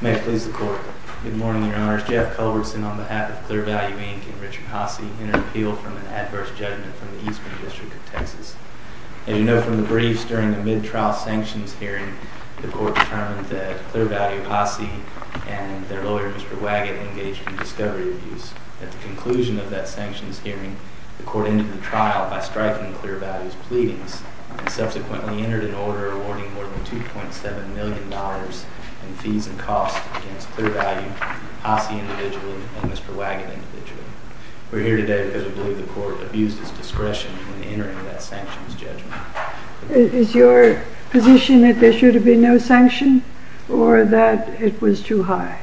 May it please the Court. Good morning, Your Honors. Jeff Culbertson, on behalf of Clear Value, Inc. and Richard Hasse, entered appeal from an adverse judgment from the Eastman District of Texas. As you know from the briefs, during a mid-trial sanctions hearing, the Court determined that Clear Value, Hasse and their lawyer, Mr. Waggett, engaged in discovery abuse. At the conclusion of that sanctions hearing, the Court ended the trial by striking Clear Value's pleadings and subsequently entered an order awarding more than $2.7 million in fees and costs against Clear Value, Hasse individually, and Mr. Waggett individually. We're here today because we believe the Court abused its discretion in entering that sanctions judgment. Is your position that there should have been no sanction or that it was too high?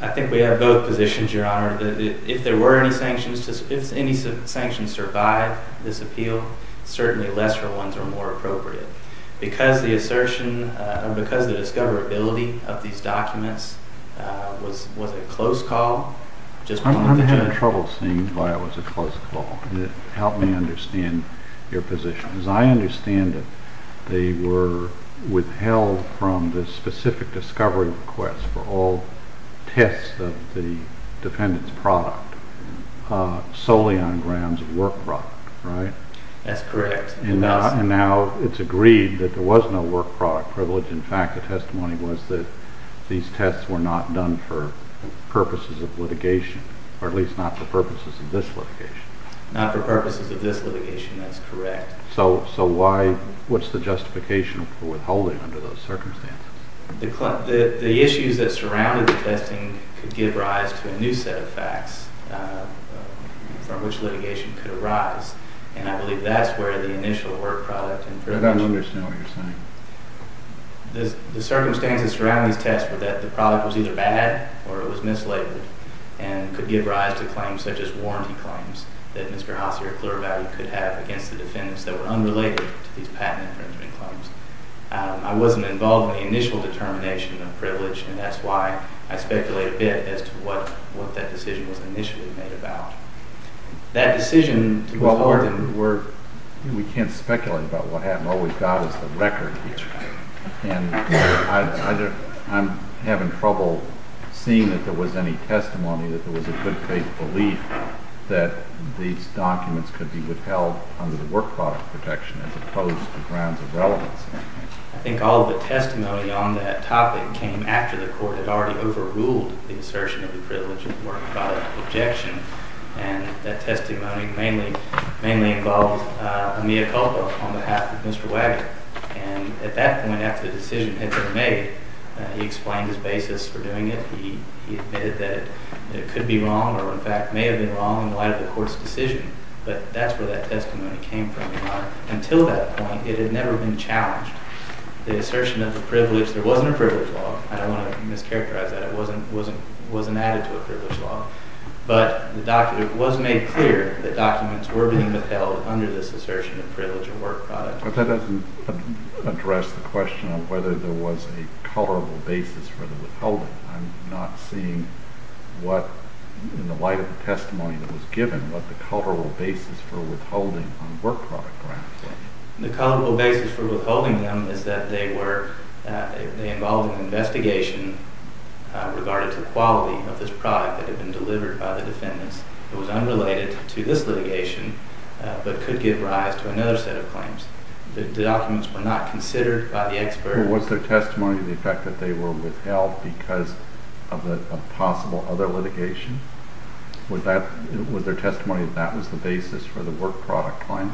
I think we have both positions, Your Honor. If there were any sanctions, if any sanctions survived this appeal, certainly lesser ones are more appropriate. Because the assertion, because the discoverability of these documents was a close call… I'm having trouble seeing why it was a close call. Help me understand your position. As I understand it, they were withheld from the specific discovery request for all tests of the defendant's product solely on grounds of work product, right? That's correct. And now it's agreed that there was no work product privilege. In fact, the testimony was that these tests were not done for purposes of litigation, or at least not for purposes of this litigation. Not for purposes of this litigation, that's correct. So what's the justification for withholding under those circumstances? The issues that surrounded the testing could give rise to a new set of facts from which litigation could arise, and I believe that's where the initial work product and privilege… I don't understand what you're saying. The circumstances surrounding these tests were that the product was either bad or it was mislabeled, and could give rise to claims such as warranty claims that Mr. Haase or Clerval could have against the defendants that were unrelated to these patent infringement claims. I wasn't involved in the initial determination of privilege, and that's why I speculate a bit as to what that decision was initially made about. That decision was… Well, we can't speculate about what happened. All we've got is the record here. That's right. And I'm having trouble seeing that there was any testimony that there was a good faith belief that these documents could be withheld under the work product protection as opposed to grounds of relevance. I think all of the testimony on that topic came after the court had already overruled the assertion of the privilege of the work product objection, and that testimony mainly involved Amiya Culpa on behalf of Mr. Wagner. And at that point after the decision had been made, he explained his basis for doing it. He admitted that it could be wrong or, in fact, may have been wrong in light of the court's decision. But that's where that testimony came from. Until that point, it had never been challenged. The assertion of the privilege – there wasn't a privilege law. I don't want to mischaracterize that. It wasn't added to a privilege law. But it was made clear that documents were being withheld under this assertion of privilege of work product. But that doesn't address the question of whether there was a colorable basis for the withholding. I'm not seeing what, in the light of the testimony that was given, what the colorable basis for withholding on work product grounds was. The colorable basis for withholding them is that they involved an investigation regarding the quality of this product that had been delivered by the defendants. It was unrelated to this litigation, but could give rise to another set of claims. The documents were not considered by the expert. Was there testimony to the fact that they were withheld because of a possible other litigation? Was there testimony that that was the basis for the work product claim?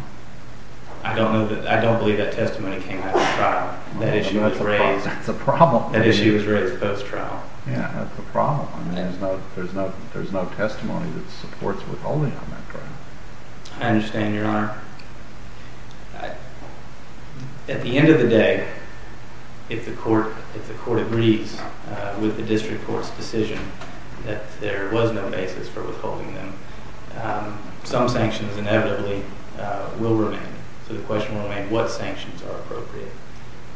I don't believe that testimony came after trial. That issue was raised post-trial. That's a problem. There's no testimony that supports withholding on that ground. I understand, Your Honor. At the end of the day, if the court agrees with the district court's decision that there was no basis for withholding them, some sanctions inevitably will remain. So the question will remain, what sanctions are appropriate?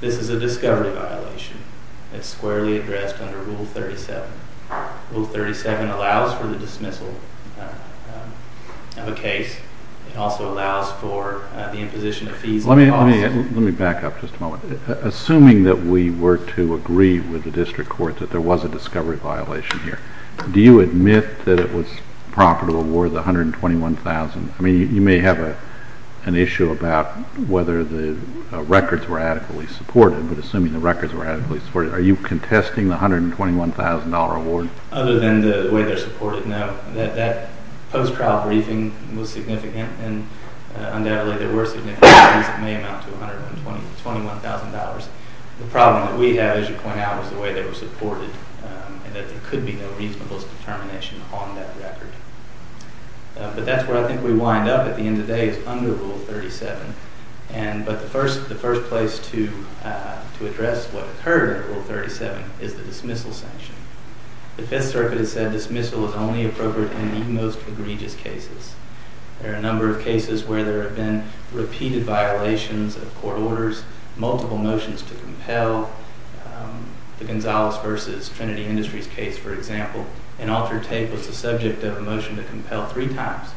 This is a discovery violation. It's squarely addressed under Rule 37. Rule 37 allows for the dismissal of a case. It also allows for the imposition of fees. Let me back up just a moment. Assuming that we were to agree with the district court that there was a discovery violation here, do you admit that it was proper to award the $121,000? I mean, you may have an issue about whether the records were adequately supported, but assuming the records were adequately supported, are you contesting the $121,000 award? Other than the way they're supported, no. That post-trial briefing was significant, and undoubtedly there were significant briefings that may amount to $121,000. The problem that we have, as you point out, is the way they were supported, and that there could be no reasonable determination on that record. But that's where I think we wind up at the end of the day, is under Rule 37. But the first place to address what occurred under Rule 37 is the dismissal sanction. The Fifth Circuit has said dismissal is only appropriate in the most egregious cases. There are a number of cases where there have been repeated violations of court orders, multiple motions to compel. The Gonzales v. Trinity Industries case, for example, an altered tape was the subject of a motion to compel three times.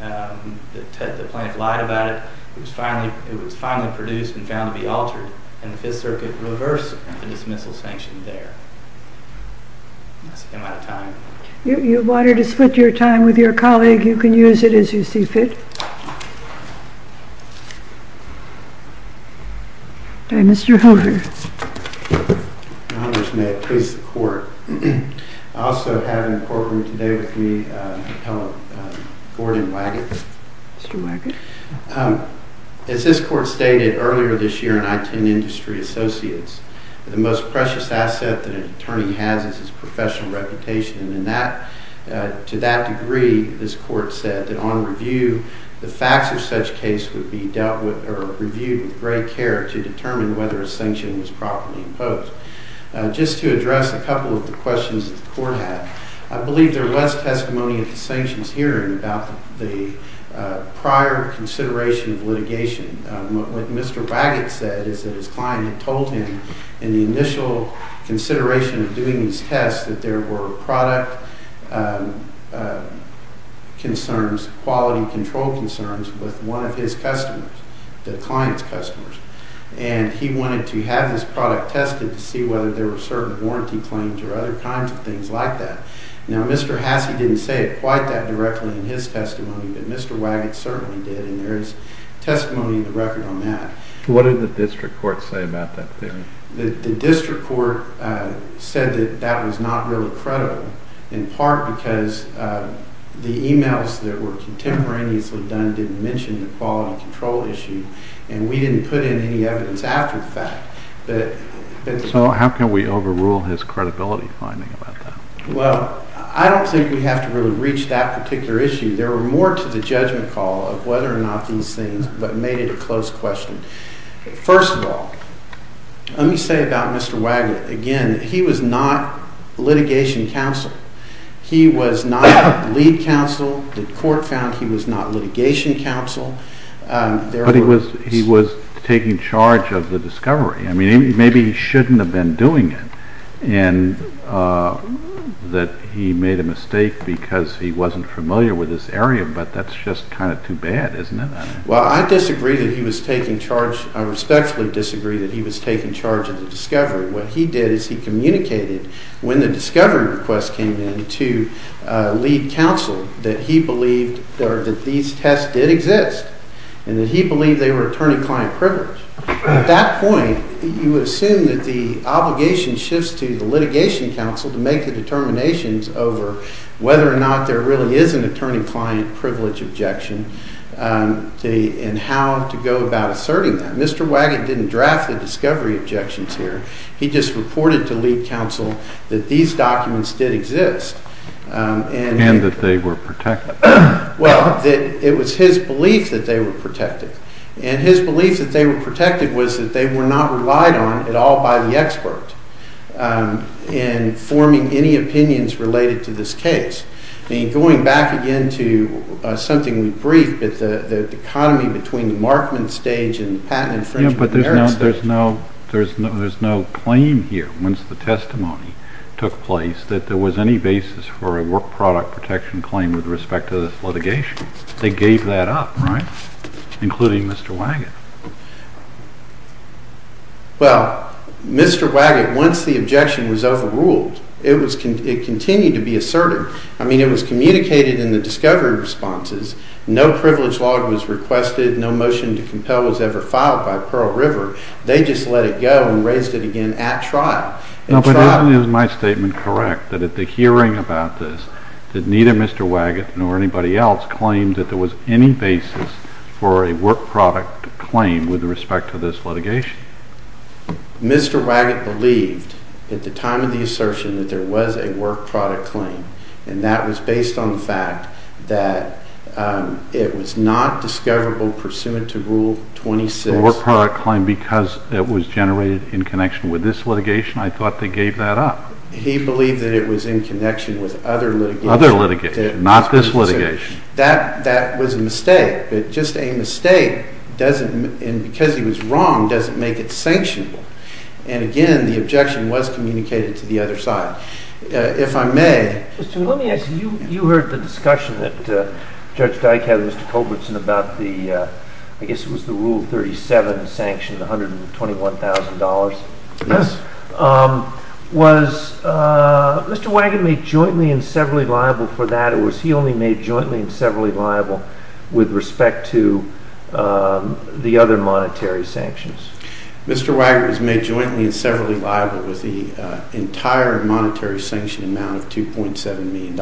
The plaintiff lied about it. It was finally produced and found to be altered, and the Fifth Circuit reversed the dismissal sanction there. That's the amount of time. If you wanted to split your time with your colleague, you can use it as you see fit. Mr. Hoover. Your Honors, may it please the Court. I also have in courtroom today with me a fellow, Gordon Waggett. Mr. Waggett. As this Court stated earlier this year in I-10 Industry Associates, the most precious asset that an attorney has is his professional reputation, and to that degree, this Court said that on review, the facts of such case would be reviewed with great care to determine whether a sanction was properly imposed. Just to address a couple of the questions that the Court had, I believe there was testimony at the sanctions hearing about the prior consideration of litigation. What Mr. Waggett said is that his client had told him in the initial consideration of doing these tests that there were product concerns, quality control concerns, with one of his customers, the client's customers. And he wanted to have this product tested to see whether there were certain warranty claims or other kinds of things like that. Now, Mr. Hasse didn't say it quite that directly in his testimony, but Mr. Waggett certainly did, and there is testimony in the record on that. What did the District Court say about that? The District Court said that that was not really credible, in part because the emails that were contemporaneously done didn't mention the quality control issue, and we didn't put in any evidence after the fact. So how can we overrule his credibility finding about that? Well, I don't think we have to really reach that particular issue. There were more to the judgment call of whether or not these things, but made it a close question. First of all, let me say about Mr. Waggett, again, he was not litigation counsel. He was not lead counsel. The Court found he was not litigation counsel. But he was taking charge of the discovery. I mean, maybe he shouldn't have been doing it, and that he made a mistake because he wasn't familiar with this area, but that's just kind of too bad, isn't it? Well, I disagree that he was taking charge. I respectfully disagree that he was taking charge of the discovery. What he did is he communicated when the discovery request came in to lead counsel that he believed that these tests did exist and that he believed they were attorney-client privilege. At that point, you would assume that the obligation shifts to the litigation counsel to make the determinations over whether or not there really is an attorney-client privilege objection and how to go about asserting that. Mr. Waggett didn't draft the discovery objections here. He just reported to lead counsel that these documents did exist. And that they were protected. Well, it was his belief that they were protected. And his belief that they were protected was that they were not relied on at all by the expert in forming any opinions related to this case. I mean, going back again to something we briefed, the economy between the Markman stage and the Patent and Infringement of Merit stage. Yeah, but there's no claim here, once the testimony took place, that there was any basis for a work product protection claim with respect to this litigation. They gave that up, right? Including Mr. Waggett. Well, Mr. Waggett, once the objection was overruled, it continued to be asserted. I mean, it was communicated in the discovery responses. No privilege log was requested. No motion to compel was ever filed by Pearl River. They just let it go and raised it again at trial. No, but isn't my statement correct that at the hearing about this, that neither Mr. Waggett nor anybody else claimed that there was any basis for a work product claim with respect to this litigation? Mr. Waggett believed, at the time of the assertion, that there was a work product claim. And that was based on the fact that it was not discoverable pursuant to Rule 26. The work product claim, because it was generated in connection with this litigation, I thought they gave that up. He believed that it was in connection with other litigation. Other litigation, not this litigation. That was a mistake. But just a mistake, and because he was wrong, doesn't make it sanctionable. And again, the objection was communicated to the other side. If I may... Let me ask you, you heard the discussion that Judge Dyke had with Mr. Culbertson about the, I guess it was the Rule 37, sanctioned $121,000. Yes. Was Mr. Waggett made jointly and severally liable for that, or was he only made jointly and severally liable with respect to the other monetary sanctions? Mr. Waggett was made jointly and severally liable with the entire monetary sanction amount of $2.7 million.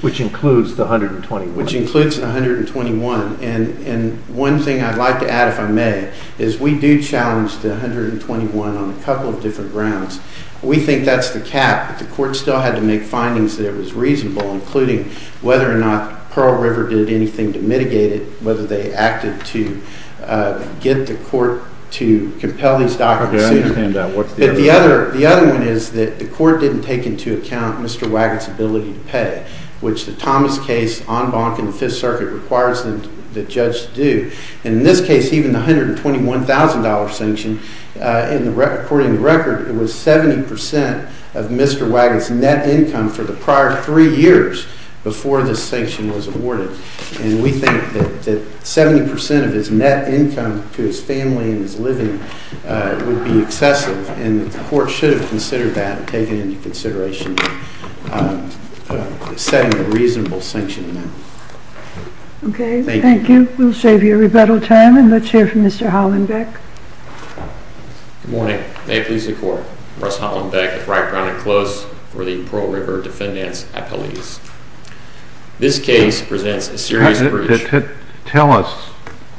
Which includes the $121,000. Which includes the $121,000. And one thing I'd like to add, if I may, is we do challenge the $121,000 on a couple of different grounds. We think that's the cap. The court still had to make findings that it was reasonable, including whether or not Pearl River did anything to mitigate it, whether they acted to get the court to compel these documents. I understand that. But the other one is that the court didn't take into account Mr. Waggett's ability to pay, which the Thomas case on Bonk and the Fifth Circuit requires the judge to do. And in this case, even the $121,000 sanction, according to the record, it was 70% of Mr. Waggett's net income for the prior three years before this sanction was awarded. And we think that 70% of his net income to his family and his living would be excessive. And the court should have considered that and taken into consideration setting a reasonable sanction amount. Okay. Thank you. We'll save you rebuttal time, and let's hear from Mr. Hollenbeck. Good morning. May it please the Court, Russ Hollenbeck with Wright, Brown, and Close for the Pearl River Defendants' Appeal. This case presents a serious breach. Tell us,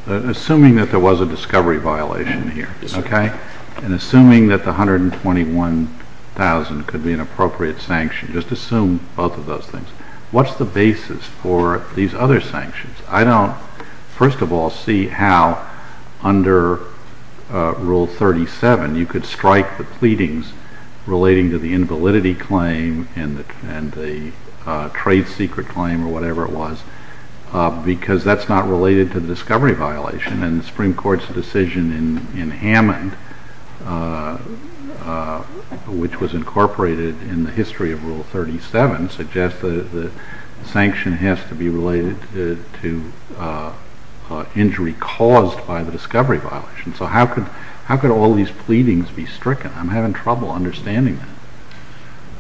assuming that there was a discovery violation here, okay, and assuming that the $121,000 could be an appropriate sanction, just assume both of those things, what's the basis for these other sanctions? I don't, first of all, see how under Rule 37 you could strike the pleadings relating to the invalidity claim and the trade secret claim or whatever it was because that's not related to the discovery violation. And the Supreme Court's decision in Hammond, which was incorporated in the history of Rule 37, suggests that the sanction has to be related to injury caused by the discovery violation. So how could all these pleadings be stricken? I'm having trouble understanding that.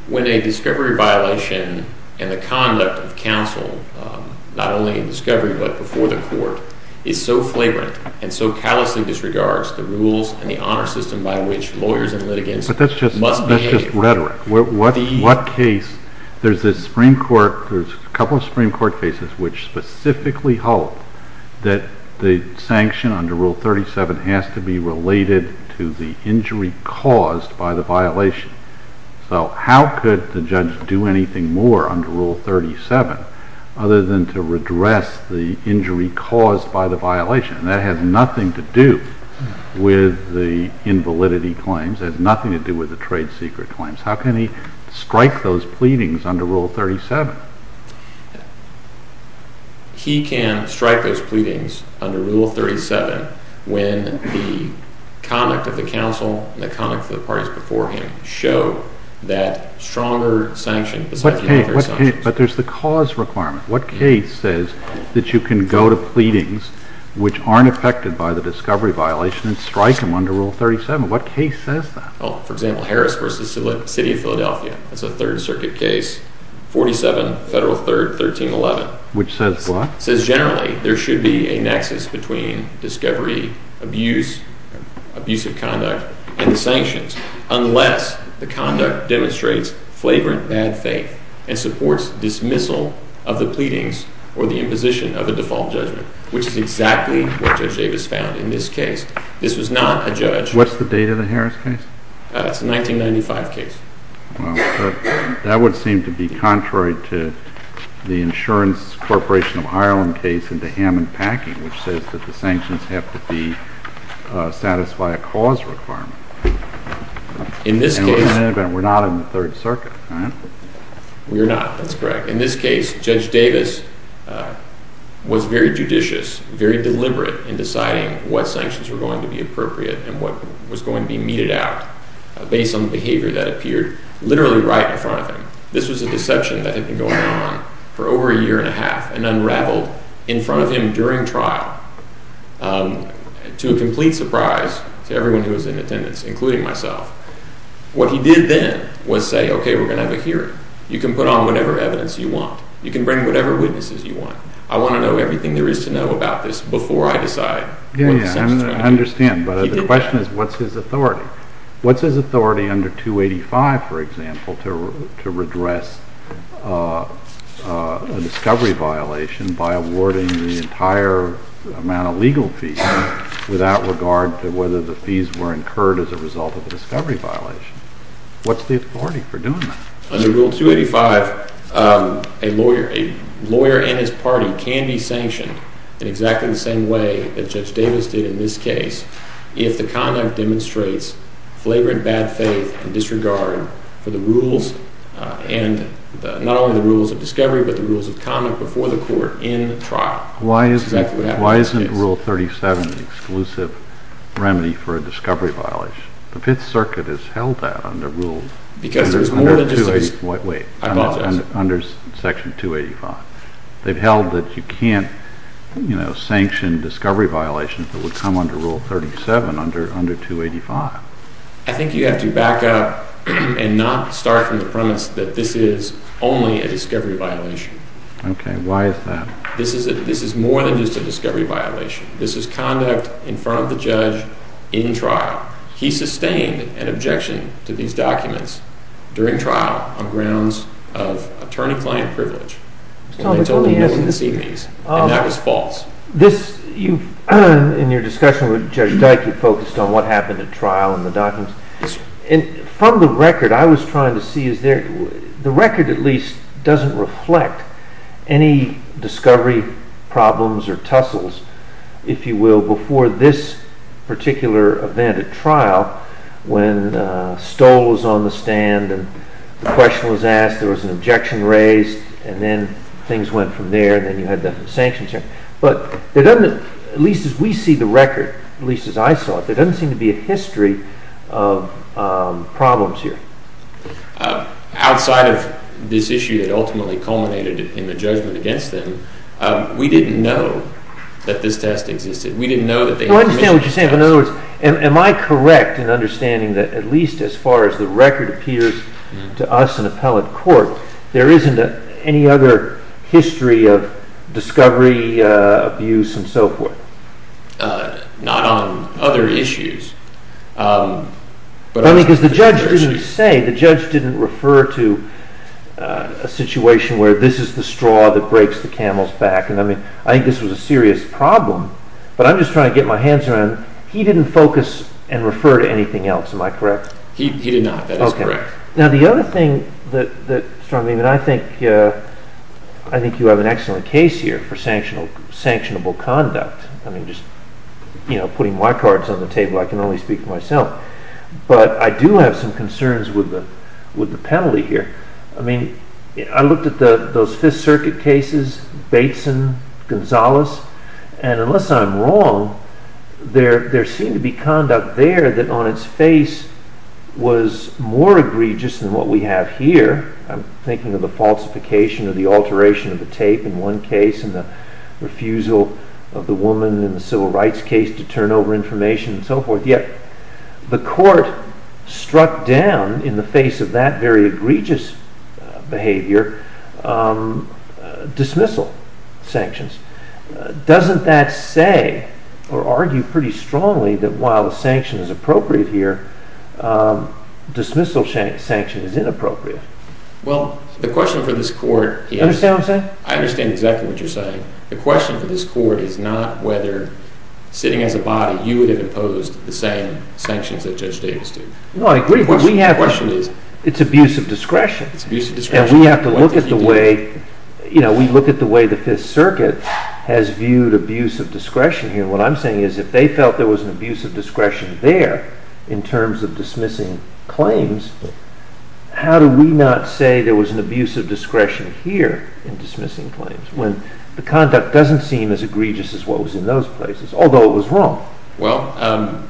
When a discovery violation and the conduct of counsel, not only in discovery but before the court, is so flagrant and so callously disregards the rules and the honor system by which lawyers and litigants must behave. But that's just rhetoric. There's a couple of Supreme Court cases which specifically hold that the sanction under Rule 37 has to be related to the injury caused by the violation. So how could the judge do anything more under Rule 37 other than to redress the injury caused by the violation? That has nothing to do with the invalidity claims. It has nothing to do with the trade secret claims. How can he strike those pleadings under Rule 37? He can strike those pleadings under Rule 37 when the conduct of the counsel and the conduct of the parties before him show that stronger sanctions… But there's the cause requirement. What case says that you can go to pleadings which aren't affected by the discovery violation and strike them under Rule 37? What case says that? Well, for example, Harris v. City of Philadelphia. That's a Third Circuit case, 47 Federal 3rd, 1311. Which says what? It says generally there should be a nexus between discovery, abuse, abusive conduct, and the sanctions unless the conduct demonstrates flavorant bad faith and supports dismissal of the pleadings or the imposition of a default judgment, which is exactly what Judge Davis found in this case. This was not a judge… What's the date of the Harris case? It's a 1995 case. Well, that would seem to be contrary to the Insurance Corporation of Ireland case in the Hammond Packing, which says that the sanctions have to satisfy a cause requirement. In this case… In any event, we're not in the Third Circuit, right? We're not. That's correct. In this case, Judge Davis was very judicious, very deliberate in deciding what sanctions were going to be appropriate and what was going to be meted out based on behavior that appeared literally right in front of him. This was a deception that had been going on for over a year and a half and unraveled in front of him during trial to a complete surprise to everyone who was in attendance, including myself. What he did then was say, okay, we're going to have a hearing. You can put on whatever evidence you want. You can bring whatever witnesses you want. I want to know everything there is to know about this before I decide what the sanctions are going to be. I understand, but the question is, what's his authority? What's his authority under 285, for example, to redress a discovery violation by awarding the entire amount of legal fees without regard to whether the fees were incurred as a result of a discovery violation? What's the authority for doing that? Under Rule 285, a lawyer and his party can be sanctioned in exactly the same way that Judge Davis did in this case if the conduct demonstrates flavored bad faith and disregard for the rules and not only the rules of discovery but the rules of conduct before the court in the trial. Why isn't Rule 37 an exclusive remedy for a discovery violation? The Fifth Circuit has held that under Rule – wait, under Section 285. They've held that you can't sanction discovery violations that would come under Rule 37 under 285. I think you have to back up and not start from the premise that this is only a discovery violation. Okay, why is that? This is more than just a discovery violation. This is conduct in front of the judge in trial. He sustained an objection to these documents during trial on grounds of attorney-client privilege. And they told him he wouldn't see these, and that was false. In your discussion with Judge Dyke, you focused on what happened at trial and the documents. From the record, I was trying to see is there – the record at least doesn't reflect any discovery problems or tussles, if you will, before this particular event at trial when Stoll was on the stand and the question was asked, there was an objection raised, and then things went from there, and then you had the sanctions. But there doesn't – at least as we see the record, at least as I saw it, there doesn't seem to be a history of problems here. Outside of this issue that ultimately culminated in the judgment against them, we didn't know that this test existed. We didn't know that they – Am I correct in understanding that at least as far as the record appears to us in appellate court, there isn't any other history of discovery, abuse, and so forth? Not on other issues. Because the judge didn't say – the judge didn't refer to a situation where this is the straw that breaks the camel's back. I mean, I think this was a serious problem, but I'm just trying to get my hands around it. He didn't focus and refer to anything else. Am I correct? He did not. That is correct. Okay. Now, the other thing that struck me that I think – I think you have an excellent case here for sanctionable conduct. I mean, just, you know, putting my cards on the table, I can only speak for myself. But I do have some concerns with the penalty here. I mean, I looked at those Fifth Circuit cases, Bateson, Gonzales, and unless I'm wrong, there seemed to be conduct there that on its face was more egregious than what we have here. I'm thinking of the falsification or the alteration of the tape in one case and the refusal of the woman in the civil rights case to turn over information and so forth. Yet the court struck down in the face of that very egregious behavior dismissal sanctions. Doesn't that say or argue pretty strongly that while the sanction is appropriate here, dismissal sanction is inappropriate? Well, the question for this court – Do you understand what I'm saying? I understand exactly what you're saying. The question for this court is not whether sitting as a body, you would have imposed the same sanctions that Judge Davis did. No, I agree, but we have – The question is – It's abuse of discretion. It's abuse of discretion. And we have to look at the way – you know, we look at the way the Fifth Circuit has viewed abuse of discretion here. And what I'm saying is if they felt there was an abuse of discretion there in terms of dismissing claims, how do we not say there was an abuse of discretion here in dismissing claims? When the conduct doesn't seem as egregious as what was in those places, although it was wrong. Well,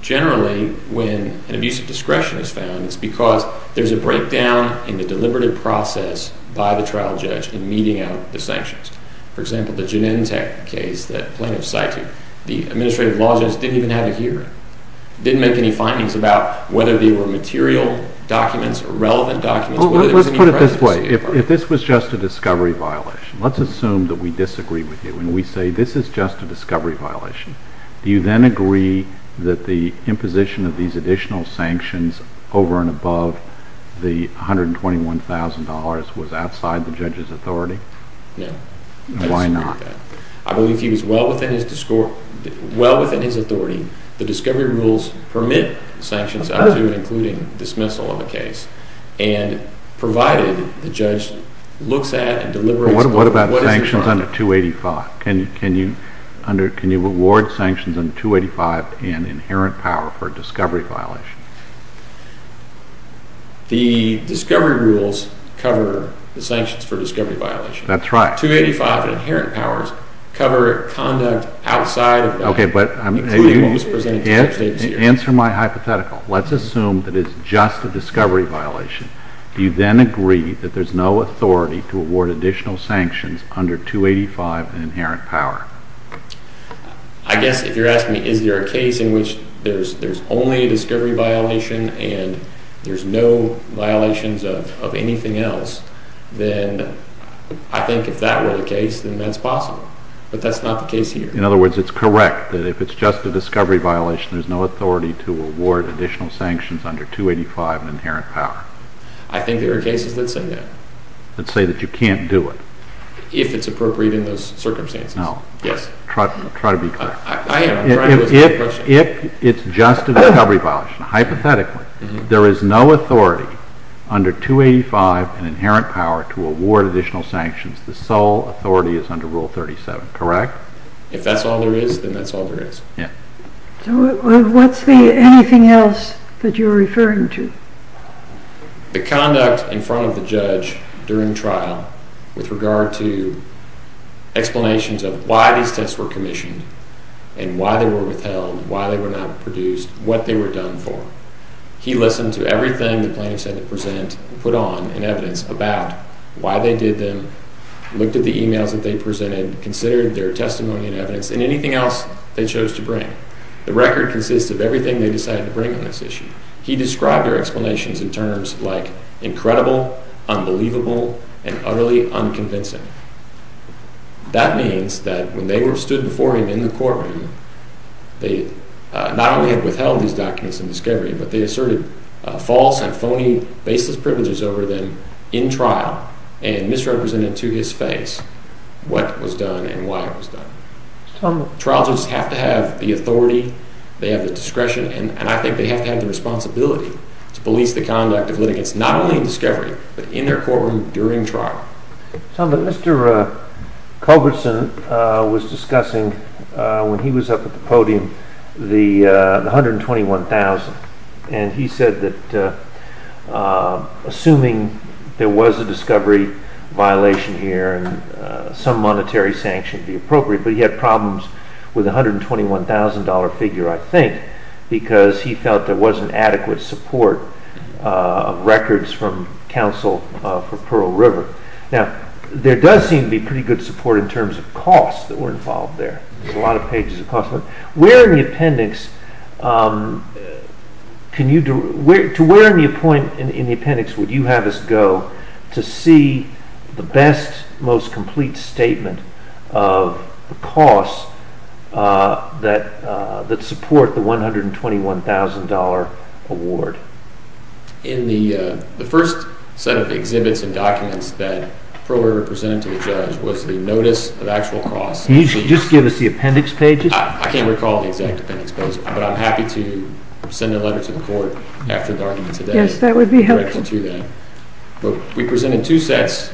generally, when an abuse of discretion is found, it's because there's a breakdown in the deliberative process by the trial judge in meeting out the sanctions. For example, the Genentech case, the plaintiff cited, the administrative law judge didn't even have a hearing. Didn't make any findings about whether they were material documents or relevant documents. Well, let's put it this way. If this was just a discovery violation, let's assume that we disagree with you and we say this is just a discovery violation. Do you then agree that the imposition of these additional sanctions over and above the $121,000 was outside the judge's authority? No. Why not? I believe he was well within his authority. The discovery rules permit sanctions up to and including dismissal of a case and provided the judge looks at and deliberates. What about sanctions under 285? Can you award sanctions under 285 and inherent power for discovery violations? The discovery rules cover the sanctions for discovery violations. That's right. 285 and inherent powers cover conduct outside of that. Okay, but answer my hypothetical. Let's assume that it's just a discovery violation. Do you then agree that there's no authority to award additional sanctions under 285 and inherent power? I guess if you're asking me is there a case in which there's only a discovery violation and there's no violations of anything else, then I think if that were the case, then that's possible. But that's not the case here. In other words, it's correct that if it's just a discovery violation, there's no authority to award additional sanctions under 285 and inherent power? I think there are cases that say that. That say that you can't do it? If it's appropriate in those circumstances. No. Yes. Try to be clear. I am. If it's just a discovery violation, hypothetically, there is no authority under 285 and inherent power to award additional sanctions. The sole authority is under Rule 37, correct? If that's all there is, then that's all there is. Yeah. So what's the anything else that you're referring to? The conduct in front of the judge during trial with regard to explanations of why these tests were commissioned and why they were withheld, why they were not produced, what they were done for. He listened to everything the plaintiff said to present and put on in evidence about why they did them, looked at the emails that they presented, considered their testimony and evidence, and anything else they chose to bring. The record consists of everything they decided to bring on this issue. He described their explanations in terms like incredible, unbelievable, and utterly unconvincing. That means that when they stood before him in the courtroom, they not only had withheld these documents in discovery, but they asserted false and phony baseless privileges over them in trial and misrepresented to his face what was done and why it was done. Trials have to have the authority, they have the discretion, and I think they have to have the responsibility to police the conduct of litigants, not only in discovery, but in their courtroom during trial. Mr. Culbertson was discussing when he was up at the podium the $121,000, and he said that assuming there was a discovery violation here and some monetary sanction would be appropriate, but he had problems with the $121,000 figure, I think, because he felt there wasn't adequate support of records from counsel for Pearl River. Now, there does seem to be pretty good support in terms of costs that were involved there. Where in the appendix would you have us go to see the best, most complete statement of the costs that support the $121,000 award? In the first set of exhibits and documents that Pearl River presented to the judge was the notice of actual costs. Can you just give us the appendix pages? I can't recall the exact appendix page, but I'm happy to send a letter to the court after the argument today. Yes, that would be helpful. We presented two sets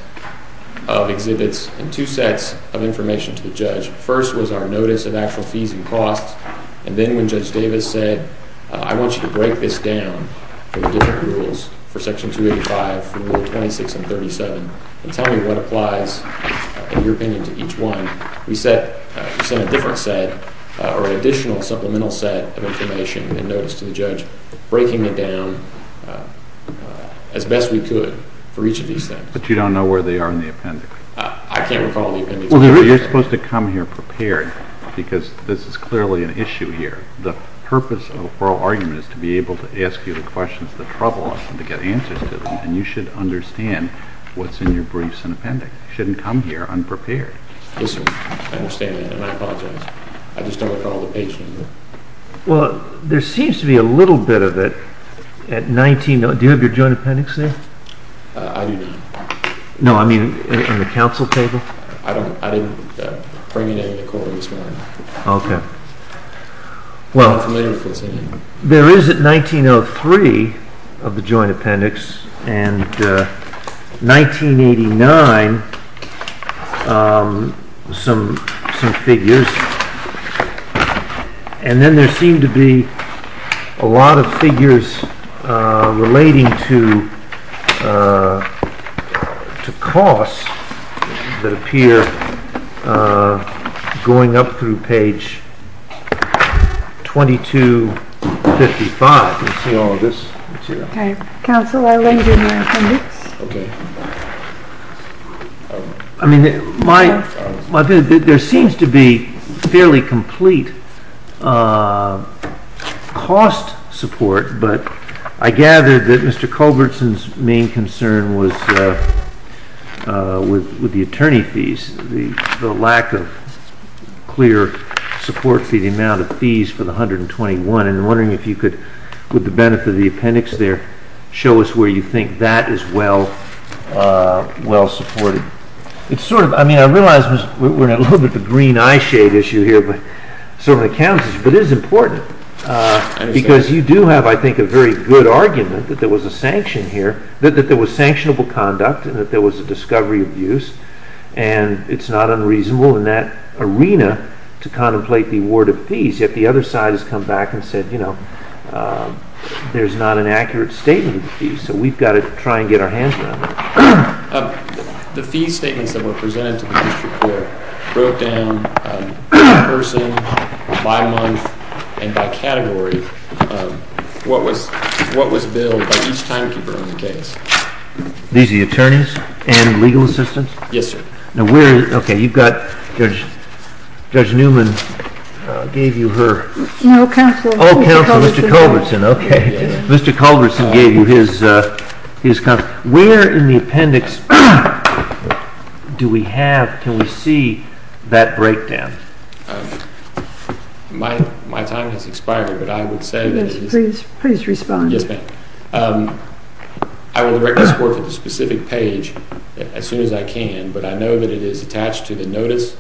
of exhibits and two sets of information to the judge. First was our notice of actual fees and costs, and then when Judge Davis said, I want you to break this down for the different rules for Section 285, for Rule 26 and 37, and tell me what applies, in your opinion, to each one, we sent a different set or an additional supplemental set of information and notice to the judge, breaking it down as best we could for each of these things. But you don't know where they are in the appendix? I can't recall the appendix page. Well, you're supposed to come here prepared because this is clearly an issue here. The purpose of the oral argument is to be able to ask you the questions that trouble us and to get answers to them, and you should understand what's in your briefs and appendix. You shouldn't come here unprepared. Yes, sir, I understand that, and I apologize. I just don't recall the page number. Well, there seems to be a little bit of it at 19 – do you have your joint appendix there? I do not. No, I mean on the counsel table? I didn't bring it into court this morning. Okay. I'm not familiar with what's in it. There is at 1903 of the joint appendix and 1989 some figures, and then there seem to be a lot of figures relating to costs that appear going up through page 2255. Do you see all of this? Counsel, I'll lend you my appendix. Okay. I mean, there seems to be fairly complete cost support, but I gathered that Mr. Culbertson's main concern was with the attorney fees, the lack of clear support for the amount of fees for the 121, and I'm wondering if you could, with the benefit of the appendix there, show us where you think that is well supported. It's sort of – I mean, I realize we're in a little bit of a green eyeshade issue here, but certainly it counts, but it is important, because you do have, I think, a very good argument that there was a sanction here, that there was sanctionable conduct and that there was a discovery of use, and it's not unreasonable in that arena to contemplate the award of fees, yet the other side has come back and said, you know, there's not an accurate statement of the fees, so we've got to try and get our hands around that. The fee statements that were presented to the district court wrote down in person, by month, and by category what was billed by each timekeeper on the case. These are the attorneys and legal assistants? Yes, sir. Now, where – okay, you've got Judge Newman gave you her – Oh, Counselor. Oh, Counselor, Mr. Culbertson, okay. Mr. Culbertson gave you his – where in the appendix do we have – can we see that breakdown? My time has expired, but I would say that it is – Please respond. Yes, ma'am. I will direct this court to the specific page as soon as I can, but I know that it is attached to the notice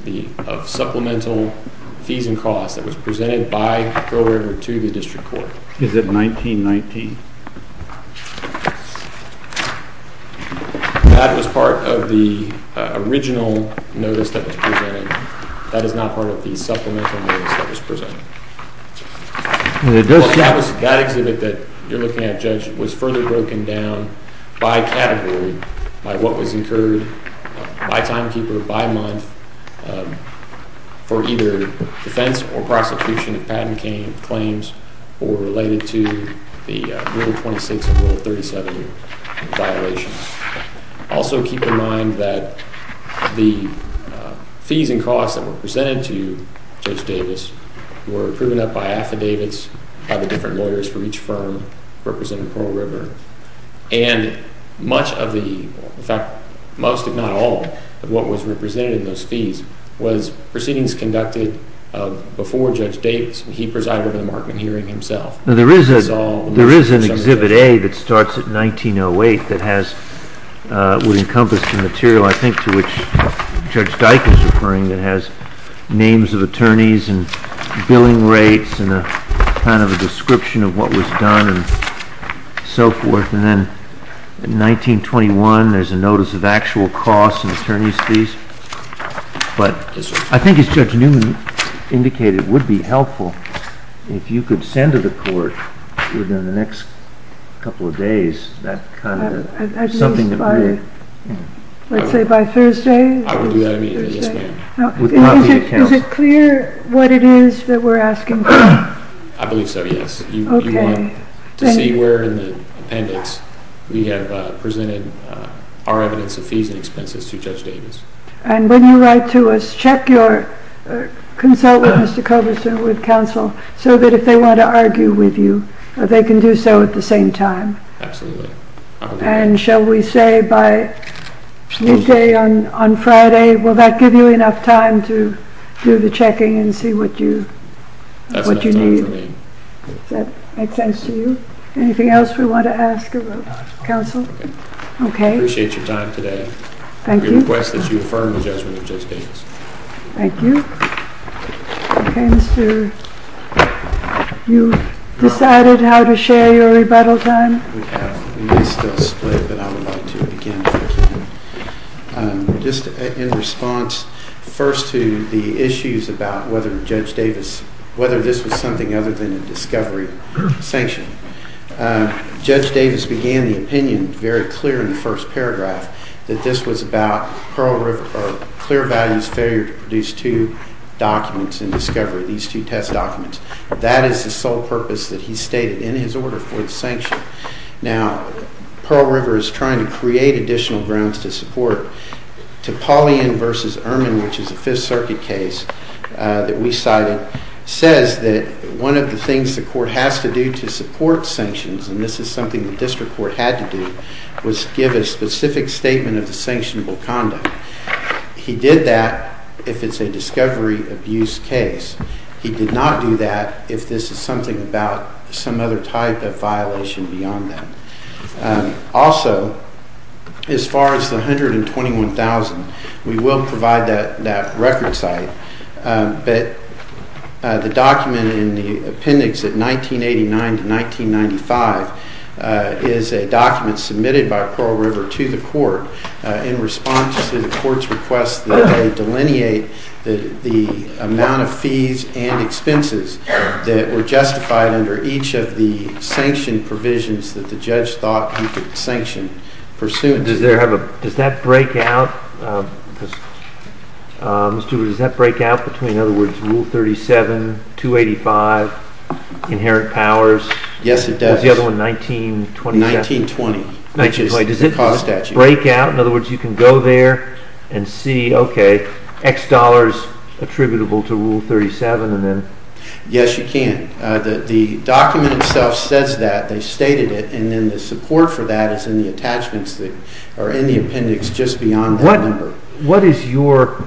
of supplemental fees and costs that was presented by Pearl River to the district court. Is it 1919? That was part of the original notice that was presented. That exhibit that you're looking at, Judge, was further broken down by category, by what was incurred by timekeeper, by month, for either defense or prosecution of patent claims or related to the Rule 26 and Rule 37 violations. Also keep in mind that the fees and costs that were presented to Judge Davis were proven up by affidavits by the different lawyers for each firm representing Pearl River. And much of the – in fact, most if not all of what was represented in those fees was proceedings conducted before Judge Davis. He presided over the Markman hearing himself. There is an Exhibit A that starts at 1908 that has – would encompass the material, I think, to which Judge Dyke is referring, that has names of attorneys and billing rates and kind of a description of what was done and so forth. And then 1921, there's a notice of actual costs and attorney's fees. But I think, as Judge Newman indicated, it would be helpful if you could send to the court within the next couple of days that kind of – at least by – let's say by Thursday. MR. DAVIS. I will do that immediately. Yes, ma'am. MS. NIEUSMA. Is it clear what it is that we're asking for? MR. DAVIS. MS. NIEUSMA. Okay. Thank you. MR. DAVIS. You want to see where in the appendix we have presented our evidence of fees and expenses to Judge Davis. MS. NIEUSMA. And when you write to us, check your – consult with Mr. Coberson, with counsel, so that if they want to argue with you, they can do so at the same time. MR. DAVIS. Absolutely. MS. NIEUSMA. And shall we say by midday on Friday, will that give you enough time to do the checking and see what you need? MR. DAVIS. That's all for me. MS. NIEUSMA. Does that make sense to you? Anything else we want to ask of counsel? MR. DAVIS. No. MS. NIEUSMA. MR. DAVIS. I appreciate your time today. MS. NIEUSMA. Thank you. MR. DAVIS. We request that you affirm the judgment of Judge Davis. MS. NIEUSMA. Thank you. Okay, Mr. – you decided how to share your rebuttal time? MR. DAVIS. I would like to begin, if I can, just in response first to the issues about whether Judge Davis – whether this was something other than a discovery sanction. Judge Davis began the opinion very clear in the first paragraph that this was about Pearl River – or Clear Value's failure to produce two documents in discovery, these two test documents. That is the sole purpose that he stated in his order for the sanction. Now, Pearl River is trying to create additional grounds to support. Topolian v. Erman, which is a Fifth Circuit case that we cited, says that one of the things the court has to do to support sanctions – and this is something the district court had to do – was give a specific statement of the sanctionable conduct. He did that if it's a discovery abuse case. He did not do that if this is something about some other type of violation beyond that. Also, as far as the $121,000, we will provide that record site, but the document in the appendix at 1989-1995 is a document submitted by Pearl River to the court in response to the court's request that they delineate the amount of fees and expenses that were justified under each of the sanction provisions that the judge thought you could sanction pursuant to that. Does that break out between, in other words, Rule 37, 285, Inherent Powers? Yes, it does. What was the other one, 1927? 1920. 1920. Does it break out? Does it break out? In other words, you can go there and see, okay, X dollars attributable to Rule 37, and then… Yes, you can. The document itself says that. They stated it, and then the support for that is in the attachments that are in the appendix just beyond that number. What is your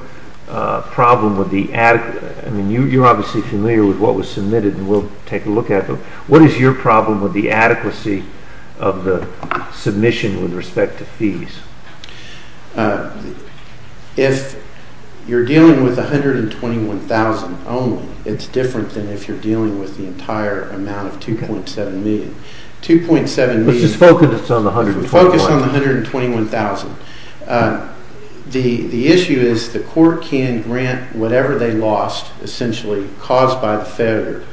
problem with the – I mean, you're obviously familiar with what was submitted and we'll take a look at them – what is your problem with the adequacy of the submission with respect to fees? If you're dealing with $121,000 only, it's different than if you're dealing with the entire amount of $2.7 million. $2.7 million… Let's just focus on the $121,000. Focus on the $121,000. The issue is the court can grant whatever they lost, essentially, caused by the failure.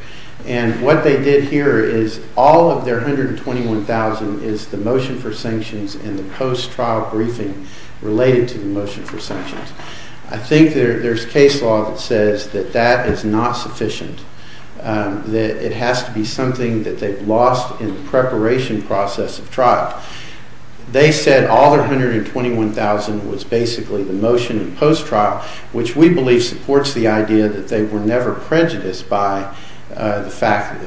And what they did here is all of their $121,000 is the motion for sanctions and the post-trial briefing related to the motion for sanctions. I think there's case law that says that that is not sufficient, that it has to be something that they've lost in the preparation process of trial. They said all their $121,000 was basically the motion in post-trial, which we believe supports the idea that they were never prejudiced by the fact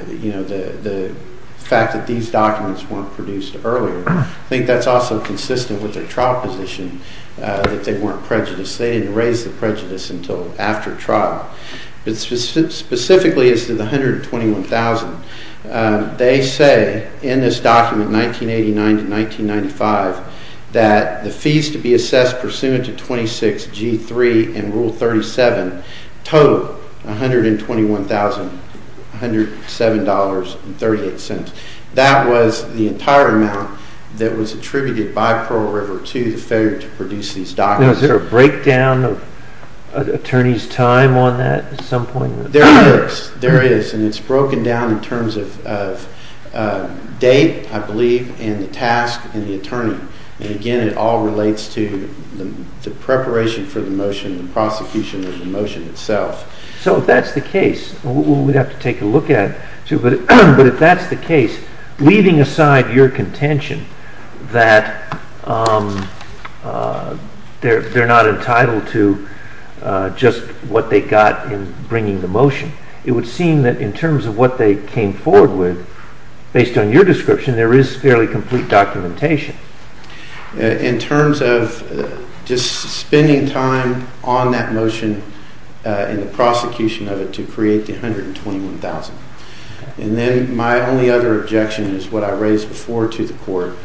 that these documents weren't produced earlier. I think that's also consistent with their trial position, that they weren't prejudiced. They didn't raise the prejudice until after trial. But specifically as to the $121,000, they say in this document, 1989 to 1995, that the total, $121,107.38, that was the entire amount that was attributed by Pearl River to the failure to produce these documents. Is there a breakdown of attorneys' time on that at some point? There is. There is. And it's broken down in terms of date, I believe, and the task, and the attorney. And again, it all relates to the preparation for the motion, the prosecution of the motion itself. So if that's the case, we'd have to take a look at it. But if that's the case, leaving aside your contention that they're not entitled to just what they got in bringing the motion, it would seem that in terms of what they came forward with, based on your description, there is fairly complete documentation. In terms of just spending time on that motion and the prosecution of it to create the $121,000. And then my only other objection is what I raised before to the court,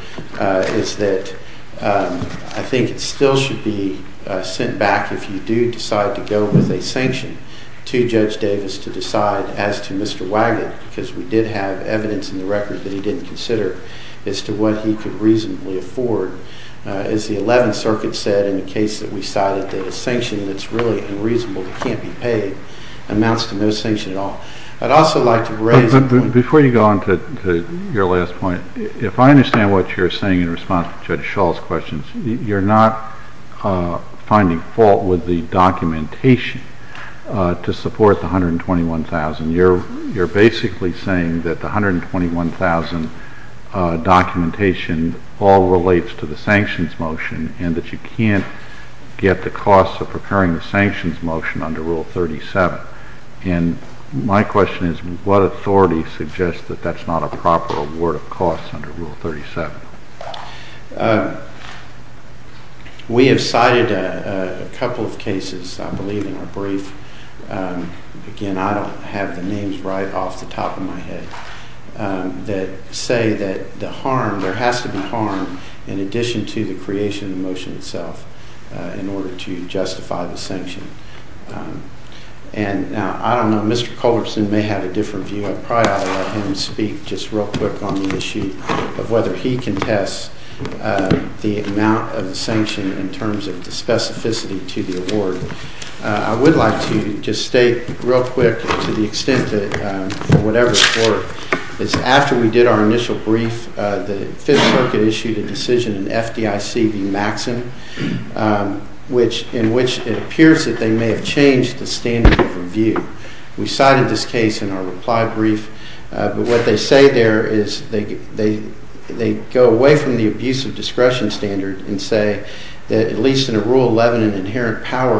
is that I think it still should be sent back if you do decide to go with a sanction to Judge Davis to decide, as to Mr. Wagon, because we did have evidence in the record that he didn't consider as to what he could reasonably afford. As the 11th Circuit said in the case that we cited, that a sanction that's really unreasonable that can't be paid amounts to no sanction at all. I'd also like to raise a point. Before you go on to your last point, if I understand what you're saying in response to Judge Schall's questions, you're not finding fault with the documentation to support the $121,000. You're basically saying that the $121,000 documentation all relates to the sanctions motion and that you can't get the costs of preparing the sanctions motion under Rule 37. My question is, what authority suggests that that's not a proper award of costs under Rule 37? We have cited a couple of cases, I believe, in our brief. Again, I don't have the names right off the top of my head, that say that there has to be harm in addition to the creation of the motion itself in order to justify the sanction. Now, I don't know. Mr. Culbertson may have a different view. I probably ought to let him speak just real quick on the issue of whether he can test the amount of the sanction in terms of the specificity to the award. I would like to just state real quick, to the extent that, for whatever it's worth, is after we did our initial brief, the Fifth Circuit issued a decision in FDIC v. Maxson, in which it appears that they may have changed the standard of review. We cited this case in our reply brief, but what they say there is they go away from the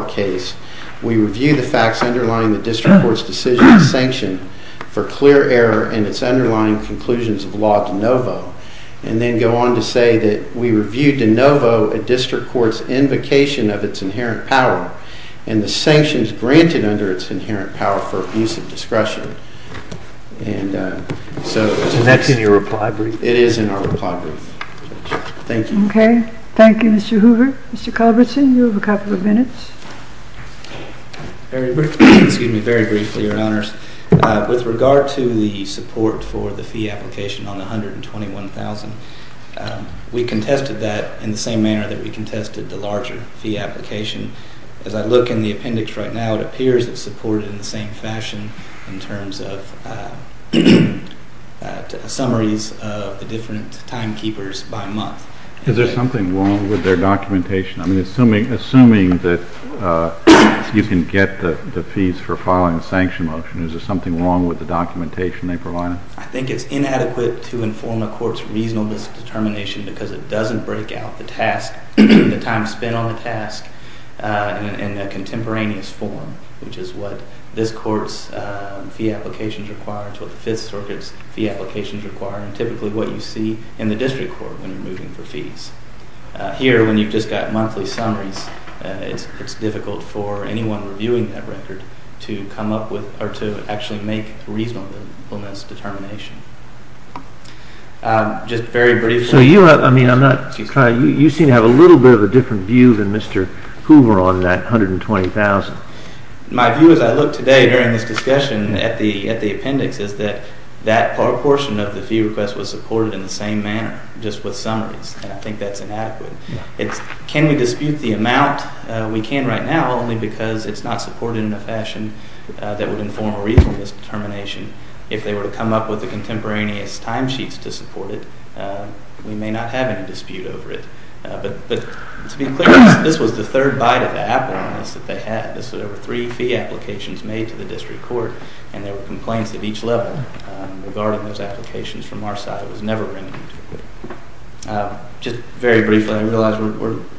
case. We review the facts underlying the district court's decision to sanction for clear error and its underlying conclusions of law de novo, and then go on to say that we reviewed de novo a district court's invocation of its inherent power and the sanctions granted under its inherent power for abuse of discretion. And that's in your reply brief? It is in our reply brief. Thank you. Okay. Thank you, Mr. Hoover. Mr. Culbertson, you have a couple of minutes. Very briefly, Your Honors. With regard to the support for the fee application on the $121,000, we contested that in the same manner that we contested the larger fee application. As I look in the appendix right now, it appears it's supported in the same fashion in terms of summaries of the different timekeepers by month. Is there something wrong with their documentation? I mean, assuming that you can get the fees for filing a sanction motion, is there something wrong with the documentation they provided? I think it's inadequate to inform a court's reasonable determination because it doesn't break out the task, the time spent on the task, in a contemporaneous form, which is what this court's fee applications require, what the Fifth Circuit's fee applications require, and typically what you see in the district court when you're moving for fees. Here, when you've just got monthly summaries, it's difficult for anyone reviewing that record to come up with or to actually make reasonable determination. Just very briefly. So you seem to have a little bit of a different view than Mr. Hoover on that $120,000. My view as I look today during this discussion at the appendix is that that portion of the fee request was supported in the same manner, just with summaries, and I think that's inadequate. Can we dispute the amount? We can right now, only because it's not supported in a fashion that would inform a reasonable determination. If they were to come up with the contemporaneous timesheets to support it, we may not have any dispute over it. But to be clear, this was the third bite of the apple on this that they had. There were three fee applications made to the district court, and there were complaints at each level regarding those applications from our side. It was never written into the court. Just very briefly, I realize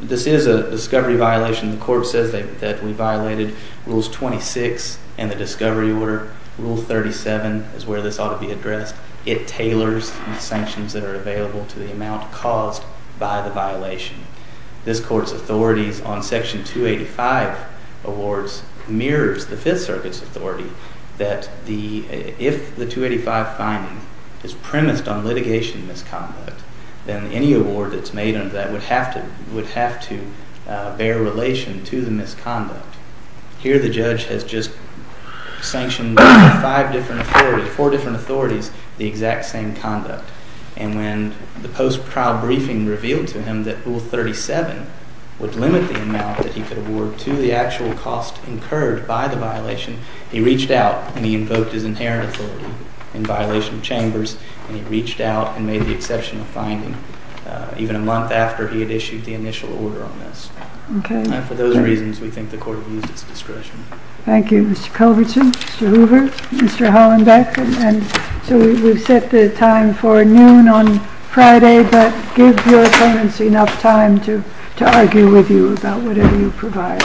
this is a discovery violation. The court says that we violated Rules 26 and the discovery order. Rule 37 is where this ought to be addressed. It tailors the sanctions that are available to the amount caused by the violation. This court's authorities on Section 285 awards mirrors the Fifth Circuit's authority that if the 285 finding is premised on litigation misconduct, then any award that's made under that would have to bear relation to the misconduct. Here the judge has just sanctioned four different authorities the exact same conduct, and when the post-trial briefing revealed to him that Rule 37 would limit the amount that he could award to the actual cost incurred by the violation, he reached out and he invoked his inherent authority in violation of chambers, and he reached out and made the exception of finding even a month after he had issued the initial order on this. And for those reasons, we think the court has used its discretion. Thank you, Mr. Culbertson, Mr. Hoover, Mr. Hollenbeck. So we've set the time for noon on Friday, but give your opponents enough time to argue with you about whatever you provide.